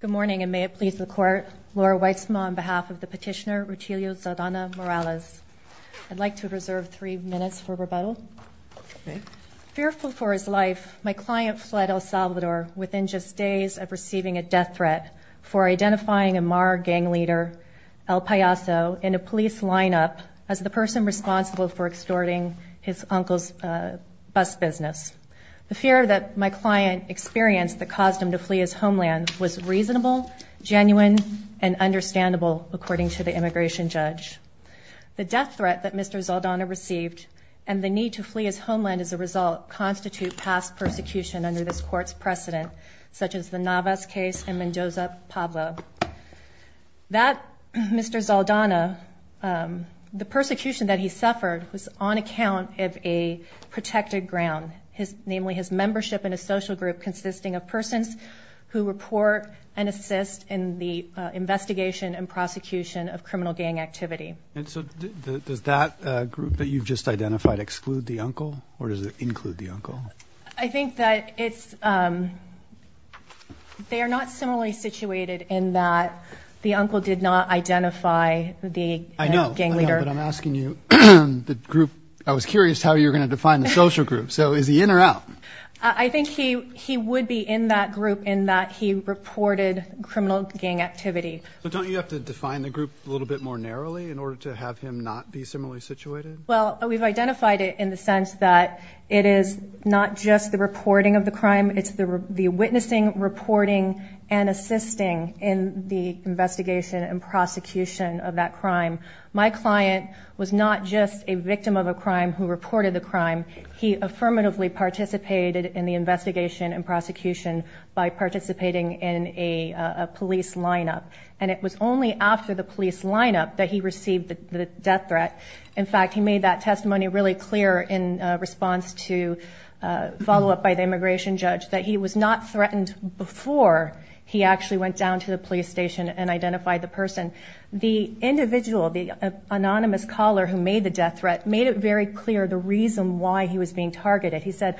Good morning, and may it please the Court, Laura Weitzman on behalf of the petitioner, Rutilio Zaldana-Morales. I'd like to reserve three minutes for rebuttal. Okay. Fearful for his life, my client fled El Salvador within just days of receiving a death threat for identifying a Mara gang leader, El Paiso, in a police lineup as the person responsible for extorting his uncle's bus business. The fear that my client experienced that caused him to flee his homeland was reasonable, genuine, and understandable, according to the immigration judge. The death threat that Mr. Zaldana received and the need to flee his homeland as a result constitute past persecution under this Court's precedent, such as the Navas case and Mendoza-Pablo. That Mr. Zaldana, the persecution that he suffered was on account of a protected ground. Namely, his membership in a social group consisting of persons who report and assist in the investigation and prosecution of criminal gang activity. And so does that group that you've just identified exclude the uncle, or does it include the uncle? I think that they are not similarly situated in that the uncle did not identify the gang leader. I know, but I'm asking you, the group, I was curious how you're going to define the social group. So is he in or out? I think he would be in that group in that he reported criminal gang activity. But don't you have to define the group a little bit more narrowly in order to have him not be similarly situated? Well, we've identified it in the sense that it is not just the reporting of the crime, it's the witnessing, reporting, and assisting in the investigation and prosecution of that crime. My client was not just a victim of a crime who reported the crime. He affirmatively participated in the investigation and prosecution by participating in a police lineup. And it was only after the police lineup that he received the death threat. In fact, he made that testimony really clear in response to follow-up by the immigration judge that he was not threatened before he actually went down to the police station and identified the person. The individual, the anonymous caller who made the death threat, made it very clear the reason why he was being targeted. He said,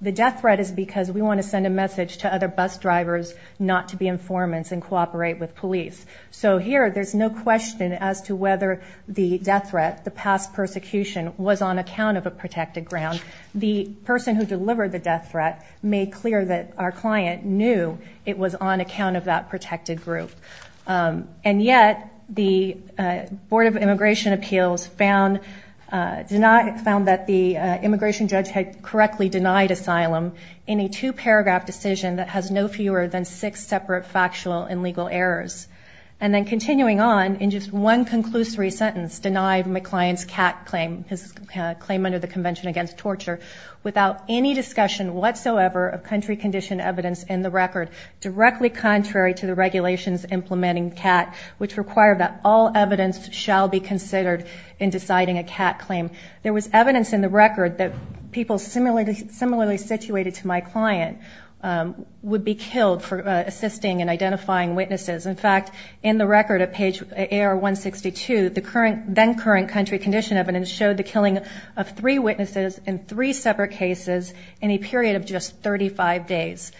the death threat is because we want to send a message to other bus drivers not to be informants and cooperate with police. So here there's no question as to whether the death threat, the past persecution, was on account of a protected ground. The person who delivered the death threat made clear that our client knew it was on account of that protected group. And yet, the Board of Immigration Appeals found that the immigration judge had correctly denied asylum in a two-paragraph decision that has no fewer than six separate factual and legal errors. And then continuing on, in just one conclusory sentence, denied my client's CAT claim, his claim under the Convention Against Torture, without any discussion whatsoever of country-conditioned evidence in the record, directly contrary to the regulations implementing CAT, which require that all evidence shall be considered in deciding a CAT claim. There was evidence in the record that people similarly situated to my client would be killed for assisting in identifying witnesses. In fact, in the record at page AR-162, the then-current country condition evidence showed the killing of three witnesses in three separate cases in a period of just 35 days.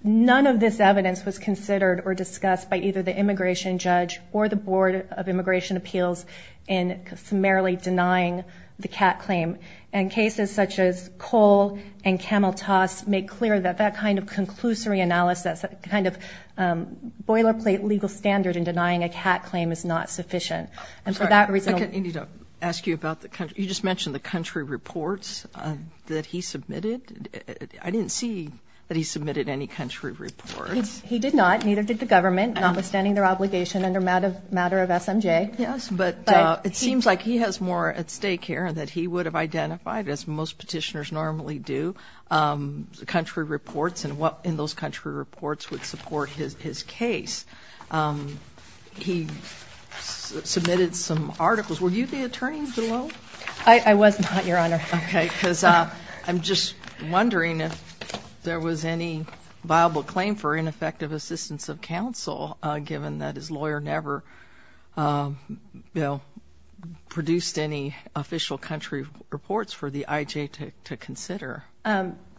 None of this evidence was considered or discussed by either the immigration judge or the Board of Immigration Appeals in summarily denying the CAT claim. And cases such as Cole and Camel Toss make clear that that kind of conclusory analysis, that kind of boilerplate legal standard in denying a CAT claim is not sufficient. I need to ask you about the country. You just mentioned the country reports that he submitted. I didn't see that he submitted any country reports. He did not. Neither did the government, notwithstanding their obligation under matter of SMJ. Yes, but it seems like he has more at stake here and that he would have identified, as most petitioners normally do, country reports and what in those country reports would support his case. He submitted some articles. Were you the attorney below? I was not, Your Honor. Okay, because I'm just wondering if there was any viable claim for ineffective assistance of counsel, given that his lawyer never produced any official country reports for the IJ to consider.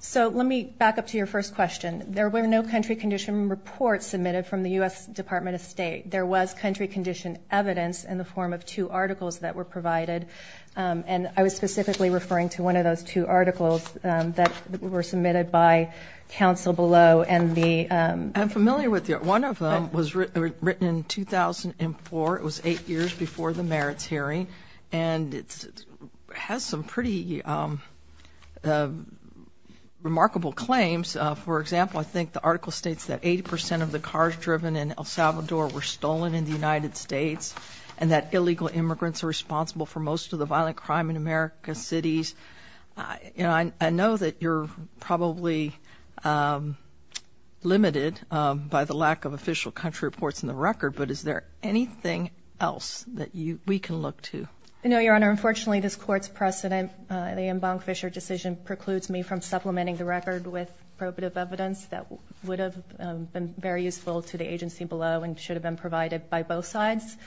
So let me back up to your first question. There were no country condition reports submitted from the U.S. Department of State. There was country condition evidence in the form of two articles that were provided, and I was specifically referring to one of those two articles that were submitted by counsel below. I'm familiar with it. One of them was written in 2004. It was eight years before the merits hearing, and it has some pretty remarkable claims. For example, I think the article states that 80 percent of the cars driven in El Salvador were stolen in the United States and that illegal immigrants are responsible for most of the violent crime in America's cities. I know that you're probably limited by the lack of official country reports in the record, but is there anything else that we can look to? No, Your Honor. Your Honor, unfortunately this Court's precedent, the Embank-Fisher decision, precludes me from supplementing the record with probative evidence that would have been very useful to the agency below and should have been provided by both sides.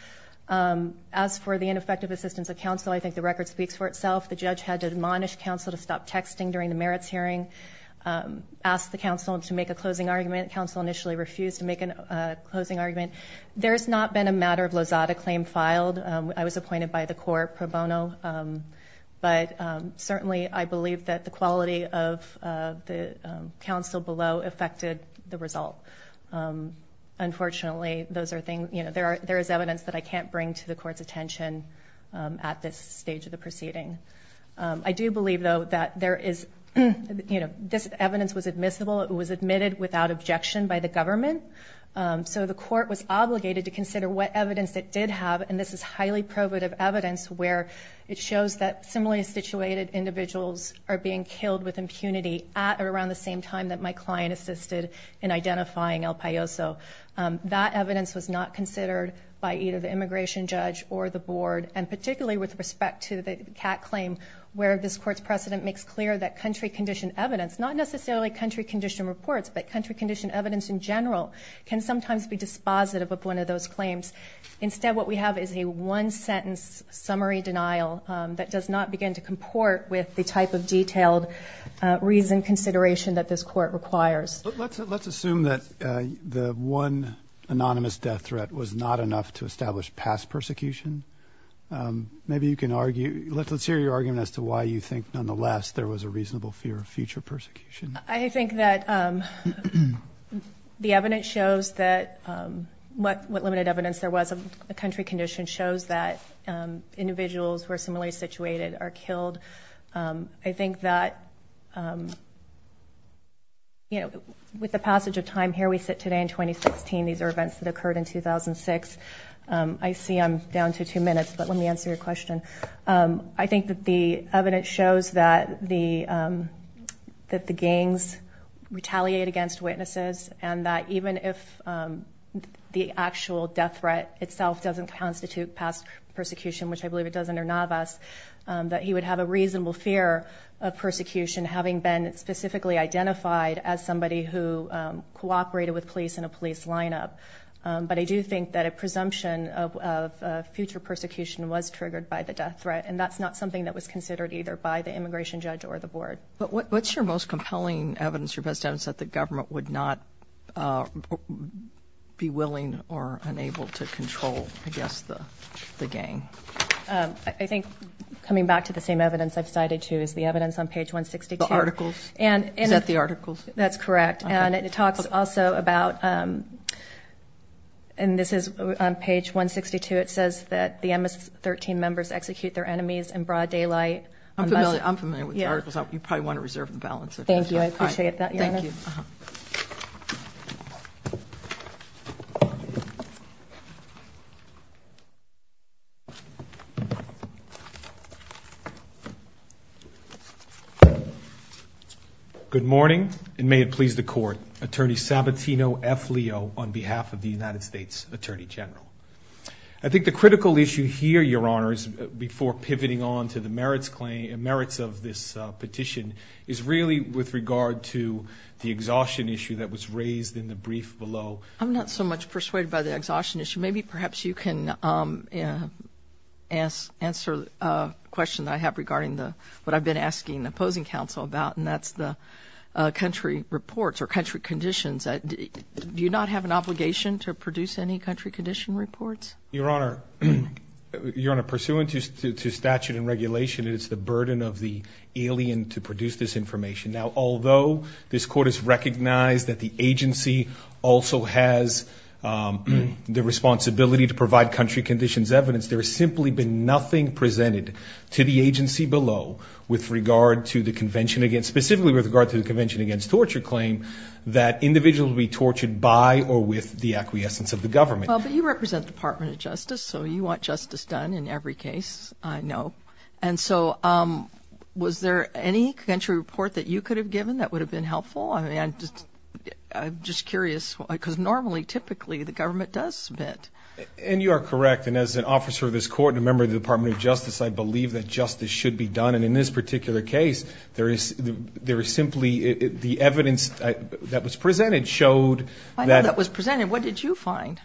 As for the ineffective assistance of counsel, I think the record speaks for itself. The judge had to admonish counsel to stop texting during the merits hearing, ask the counsel to make a closing argument. Counsel initially refused to make a closing argument. There has not been a matter of Lozada claim filed. I was appointed by the Court pro bono, but certainly I believe that the quality of the counsel below affected the result. Unfortunately, there is evidence that I can't bring to the Court's attention at this stage of the proceeding. I do believe, though, that this evidence was admissible. It was admitted without objection by the government, so the Court was obligated to consider what evidence it did have, and this is highly probative evidence where it shows that similarly situated individuals are being killed with impunity at or around the same time that my client assisted in identifying El Paiso. That evidence was not considered by either the immigration judge or the board, and particularly with respect to the Catt claim, where this Court's precedent makes clear that country condition evidence, not necessarily country condition reports, but country condition evidence in general can sometimes be dispositive of one of those claims. Instead, what we have is a one-sentence summary denial that does not begin to comport with the type of detailed reasoned consideration that this Court requires. Let's assume that the one anonymous death threat was not enough to establish past persecution. Maybe you can argue. Let's hear your argument as to why you think, nonetheless, there was a reasonable fear of future persecution. I think that the evidence shows that what limited evidence there was of a country condition shows that individuals who are similarly situated are killed. I think that, you know, with the passage of time, here we sit today in 2016. These are events that occurred in 2006. I see I'm down to two minutes, but let me answer your question. I think that the evidence shows that the gangs retaliate against witnesses and that even if the actual death threat itself doesn't constitute past persecution, which I believe it does under Navas, that he would have a reasonable fear of persecution, having been specifically identified as somebody who cooperated with police in a police lineup. But I do think that a presumption of future persecution was triggered by the death threat, and that's not something that was considered either by the immigration judge or the board. But what's your most compelling evidence or best evidence that the government would not be willing or unable to control, I guess, the gang? I think, coming back to the same evidence I've cited, too, is the evidence on page 162. The articles? Is that the articles? That's correct, and it talks also about, and this is on page 162, it says that the MS-13 members execute their enemies in broad daylight. I'm familiar with the articles. You probably want to reserve the balance. Thank you. I appreciate that. Thank you. Good morning, and may it please the Court. Attorney Sabatino F. Leo, on behalf of the United States Attorney General. I think the critical issue here, Your Honors, before pivoting on to the merits of this petition, is really with regard to the exhaustion issue that was raised in the brief below. I'm not so much persuaded by the exhaustion issue. Maybe perhaps you can answer a question I have regarding what I've been asking the opposing counsel about, and that's the country reports or country conditions. Do you not have an obligation to produce any country condition reports? Your Honor, pursuant to statute and regulation, it is the burden of the alien to produce this information. Now, although this Court has recognized that the agency also has the responsibility to provide country conditions evidence, there has simply been nothing presented to the agency below with regard to the convention against, specifically with regard to the convention against torture claim, that individuals be tortured by or with the acquiescence of the government. Well, but you represent the Department of Justice, so you want justice done in every case, I know. And so was there any country report that you could have given that would have been helpful? I mean, I'm just curious, because normally, typically, the government does submit. And you are correct. And as an officer of this Court and a member of the Department of Justice, I believe that justice should be done. And in this particular case, there is simply the evidence that was presented showed that – I know that was presented. What did you find?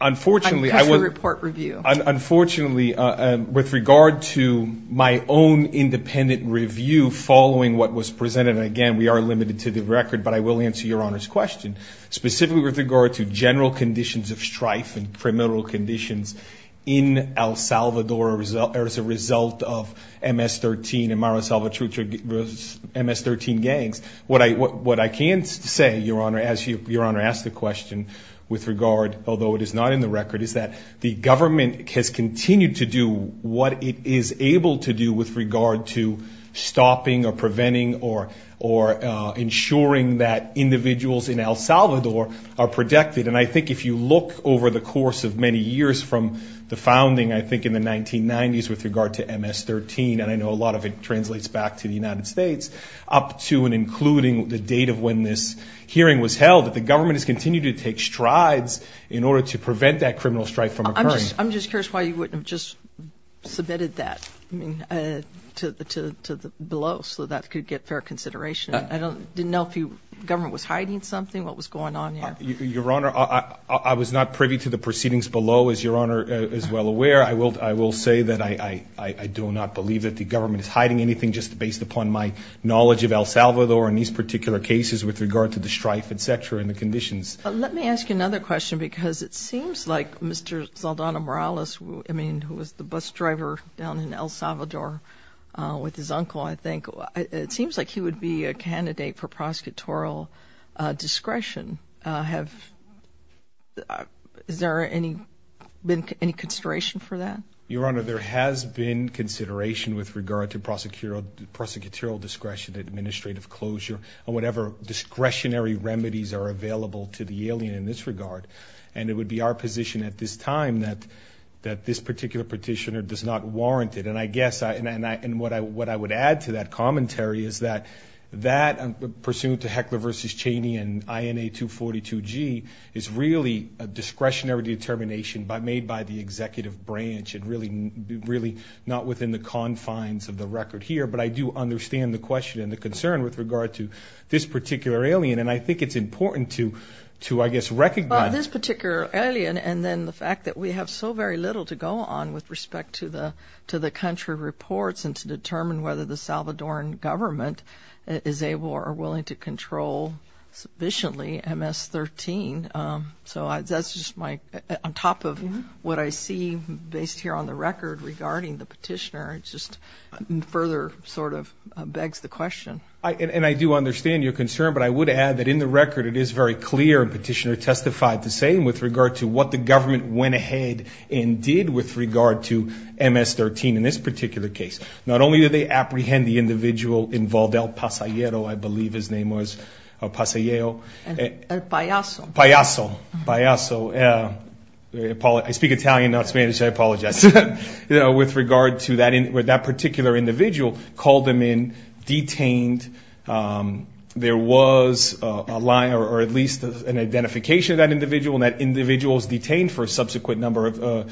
Unfortunately – Country report review. Unfortunately, with regard to my own independent review following what was presented, and, again, we are limited to the record, but I will answer Your Honor's question. Specifically with regard to general conditions of strife and criminal conditions in El Salvador as a result of MS-13 and Mara Salvatruch's MS-13 gangs, what I can say, Your Honor, as Your Honor asked the question, although it is not in the record, is that the government has continued to do what it is able to do with regard to stopping or preventing or ensuring that individuals in El Salvador are protected. And I think if you look over the course of many years from the founding, I think, in the 1990s with regard to MS-13, and I know a lot of it translates back to the United States, up to and including the date of when this hearing was held, that the government has continued to take strides in order to prevent that criminal strife from occurring. I'm just curious why you wouldn't have just submitted that below so that could get fair consideration. I didn't know if the government was hiding something, what was going on there. Your Honor, I was not privy to the proceedings below, as Your Honor is well aware. I will say that I do not believe that the government is hiding anything just based upon my knowledge of El Salvador and these particular cases with regard to the strife, et cetera, and the conditions. Let me ask you another question because it seems like Mr. Zaldana Morales, I mean, who was the bus driver down in El Salvador with his uncle, I think, it seems like he would be a candidate for prosecutorial discretion. Is there any consideration for that? Your Honor, there has been consideration with regard to prosecutorial discretion, administrative closure, and whatever discretionary remedies are available to the alien in this regard. And it would be our position at this time that this particular petitioner does not warrant it. And I guess what I would add to that commentary is that that, pursuant to Heckler v. Cheney and INA 242G, is really a discretionary determination made by the executive branch and really not within the confines of the record here. But I do understand the question and the concern with regard to this particular alien, and I think it's important to, I guess, recognize. Well, this particular alien and then the fact that we have so very little to go on with respect to the country reports and to determine whether the Salvadoran government is able or willing to control sufficiently MS-13. So that's just my, on top of what I see based here on the record regarding the petitioner, it just further sort of begs the question. And I do understand your concern, but I would add that in the record it is very clear the petitioner testified the same with regard to what the government went ahead and did with regard to MS-13 in this particular case. Not only did they apprehend the individual involved, El Pasayero, I believe his name was. El Pasayero. El Payaso. Payaso. Payaso. I speak Italian, not Spanish, so I apologize. With regard to that particular individual, called him in, detained. There was a line or at least an identification of that individual, and that individual was detained for a subsequent amount of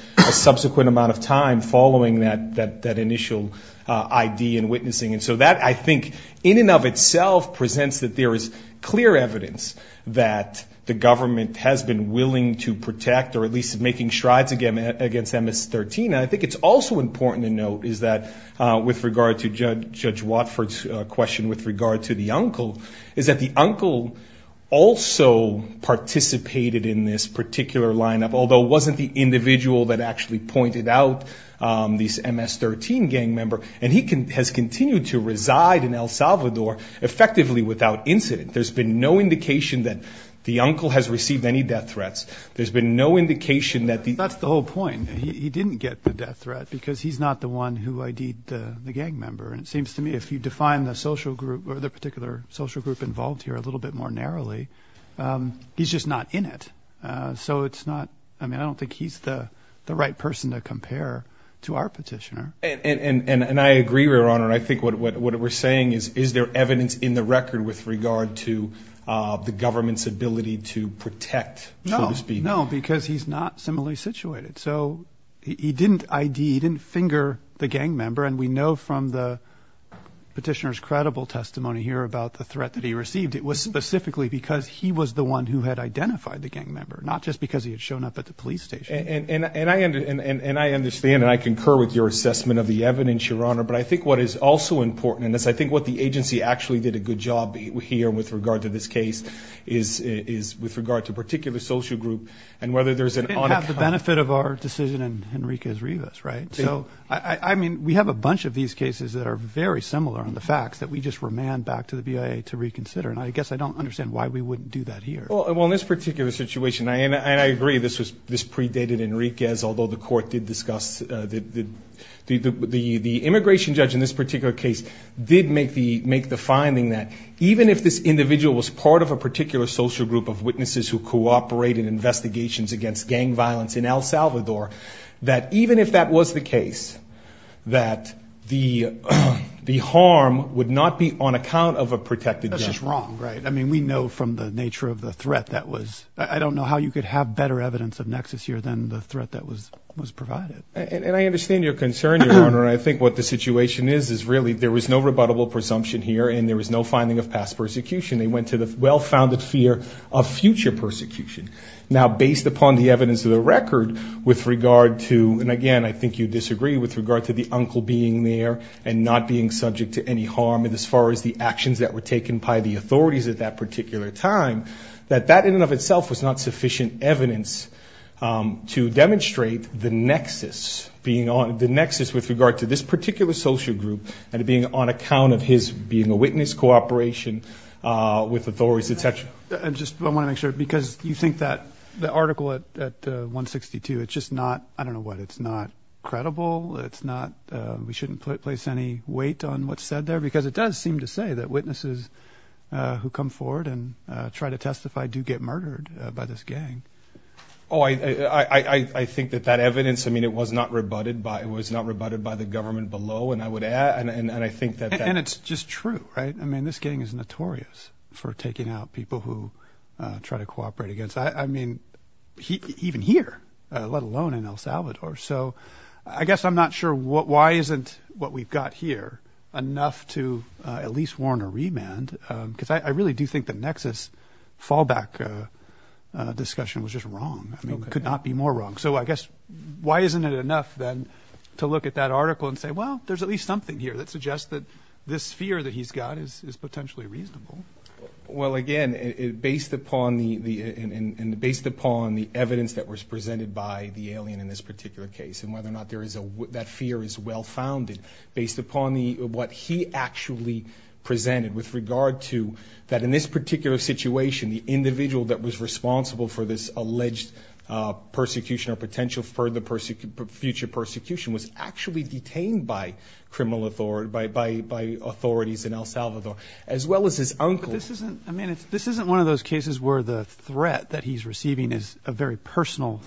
time following that initial ID and witnessing. And so that, I think, in and of itself presents that there is clear evidence that the government has been willing to protect or at least making strides against MS-13. I think it's also important to note is that with regard to Judge Watford's question with regard to the uncle, is that the uncle also participated in this particular lineup, although it wasn't the individual that actually pointed out this MS-13 gang member, and he has continued to reside in El Salvador effectively without incident. There's been no indication that the uncle has received any death threats. There's been no indication that the uncle has received any death threats. I think if you look at the social group involved here a little bit more narrowly, he's just not in it. So it's not, I mean, I don't think he's the right person to compare to our petitioner. And I agree, Your Honor, and I think what we're saying is, is there evidence in the record with regard to the government's ability to protect, so to speak? No, no, because he's not similarly situated. So he didn't ID, he didn't finger the gang member, and we know from the petitioner's credible testimony here about the threat that he received, it was specifically because he was the one who had identified the gang member, not just because he had shown up at the police station. And I understand and I concur with your assessment of the evidence, Your Honor, but I think what is also important, and I think what the agency actually did a good job here with regard to this case, is with regard to a particular social group and whether there's an on- It didn't have the benefit of our decision in Henriquez-Rivas, right? So, I mean, we have a bunch of these cases that are very similar on the facts that we just remand back to the BIA to reconsider, and I guess I don't understand why we wouldn't do that here. Well, in this particular situation, and I agree this predated Henriquez, although the court did discuss the immigration judge in this particular case did make the finding that even if this individual was part of a particular social group of witnesses who cooperated in investigations against gang violence in El Salvador, that even if that was the case, that the harm would not be on account of a protected judge. That's just wrong, right? I mean, we know from the nature of the threat that was- I don't know how you could have better evidence of nexus here than the threat that was provided. And I understand your concern, Your Honor, and I think what the situation is is really there was no rebuttable presumption here and there was no finding of past persecution. They went to the well-founded fear of future persecution. Now, based upon the evidence of the record with regard to, and again, I think you disagree with regard to the uncle being there and not being subject to any harm, and as far as the actions that were taken by the authorities at that particular time, that that in and of itself was not sufficient evidence to demonstrate the nexus, the nexus with regard to this particular social group and it being on account of his being a witness, his cooperation with authorities, et cetera. I want to make sure, because you think that the article at 162, it's just not, I don't know what, it's not credible, it's not we shouldn't place any weight on what's said there, because it does seem to say that witnesses who come forward and try to testify do get murdered by this gang. Oh, I think that that evidence, I mean, it was not rebutted by the government below, and I would add, and I think that that... And it's just true, right? I mean, this gang is notorious for taking out people who try to cooperate against, I mean, even here, let alone in El Salvador. So I guess I'm not sure why isn't what we've got here enough to at least warn a remand, because I really do think the nexus fallback discussion was just wrong, I mean, could not be more wrong. So I guess, why isn't it enough, then, to look at that article and say, well, there's at least something here that suggests that this fear that he's got is potentially reasonable? Well, again, based upon the evidence that was presented by the alien in this particular case, and whether or not that fear is well-founded, based upon what he actually presented with regard to that in this particular situation, the individual that was responsible for this alleged persecution or potential future persecution was actually detained by authorities in El Salvador, as well as his uncle. But this isn't, I mean, this isn't one of those cases where the threat that he's receiving is a very personal...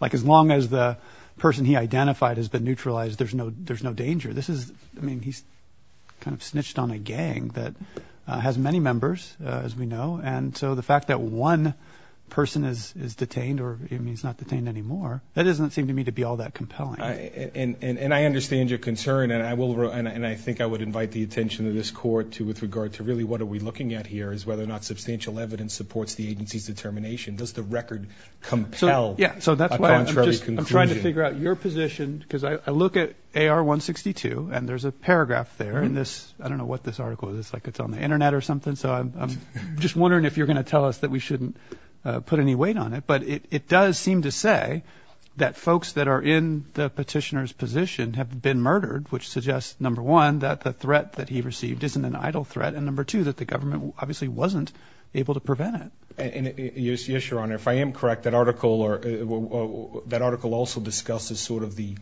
Like, as long as the person he identified has been neutralized, there's no danger. This is, I mean, he's kind of snitched on a gang that has many members, as we know, and so the fact that one person is detained or, I mean, he's not detained anymore, that doesn't seem to me to be all that compelling. And I understand your concern, and I think I would invite the attention of this Court with regard to really what are we looking at here is whether or not substantial evidence supports the agency's determination. Does the record compel a contrary conclusion? Yeah, so that's why I'm trying to figure out your position, because I look at AR-162, and there's a paragraph there in this, I don't know what this article is, it's like it's on the Internet or something, so I'm just wondering if you're going to tell us that we shouldn't put any weight on it, but it does seem to say that folks that are in the petitioner's position have been murdered, which suggests, number one, that the threat that he received isn't an idle threat, and number two, that the government obviously wasn't able to prevent it. Yes, Your Honor, if I am correct, that article also discusses sort of the,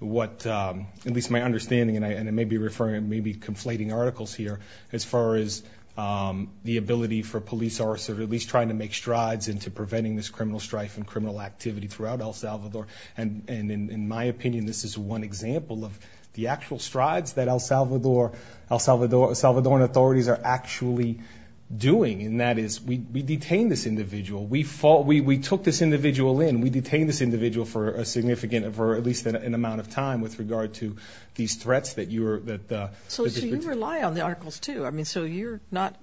at least my understanding, and I may be conflating articles here, as far as the ability for police officers at least trying to make strides into preventing this criminal strife and criminal activity throughout El Salvador, and in my opinion, this is one example of the actual strides that El Salvador and authorities are actually doing, and that is we detain this individual, we took this individual in, we detain this individual for a significant, for at least an amount of time with regard to these threats that you're, So you rely on the articles too, I mean, so you're not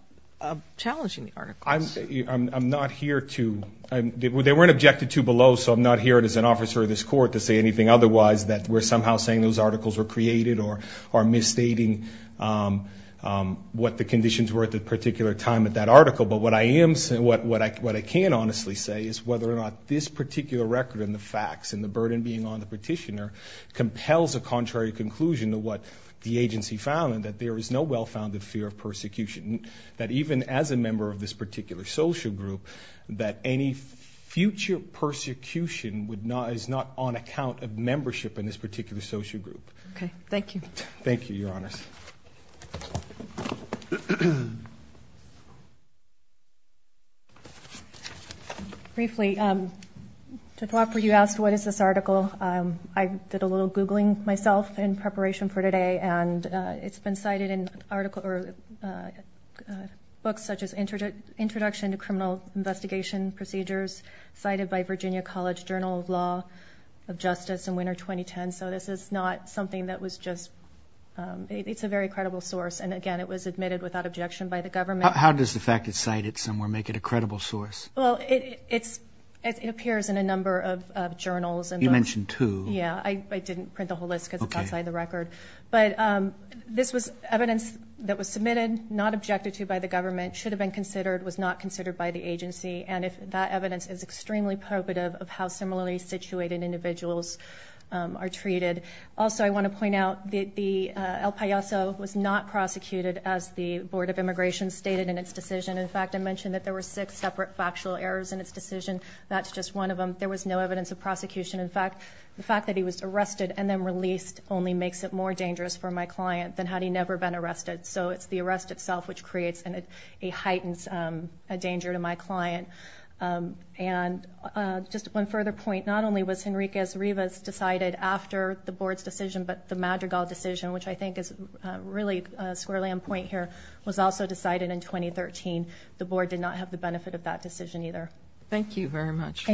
challenging the articles. I'm not here to, they weren't objected to below, so I'm not here as an officer of this court to say anything otherwise that we're somehow saying those articles were created or misstating what the conditions were at that particular time at that article, but what I am, what I can honestly say is whether or not this particular record and the facts and the burden being on the petitioner compels a contrary conclusion to what the agency found, and that there is no well-founded fear of persecution, that even as a member of this particular social group, that any future persecution would not, is not on account of membership in this particular social group. Okay, thank you. Thank you, Your Honors. Briefly, to talk, you asked what is this article, I did a little Googling myself in preparation for today, and it's been cited in books such as Introduction to Criminal Investigation Procedures, cited by Virginia College Journal of Law of Justice in winter 2010, so this is not something that was just, it's a very credible source, and again, it was admitted without objection by the government. How does the fact it's cited somewhere make it a credible source? Well, it appears in a number of journals. You mentioned two. Yeah, I didn't print the whole list because it's outside the record. But this was evidence that was submitted, not objected to by the government, should have been considered, was not considered by the agency, and that evidence is extremely probative of how similarly situated individuals are treated. Also, I want to point out that El Paiso was not prosecuted as the Board of Immigration stated in its decision. In fact, I mentioned that there were six separate factual errors in its decision. That's just one of them. There was no evidence of prosecution. In fact, the fact that he was arrested and then released only makes it more dangerous for my client than had he never been arrested. So it's the arrest itself which creates and heightens a danger to my client. And just one further point. Not only was Henriquez-Rivas decided after the Board's decision, but the Madrigal decision, which I think is really squarely on point here, was also decided in 2013. The Board did not have the benefit of that decision either. Thank you very much.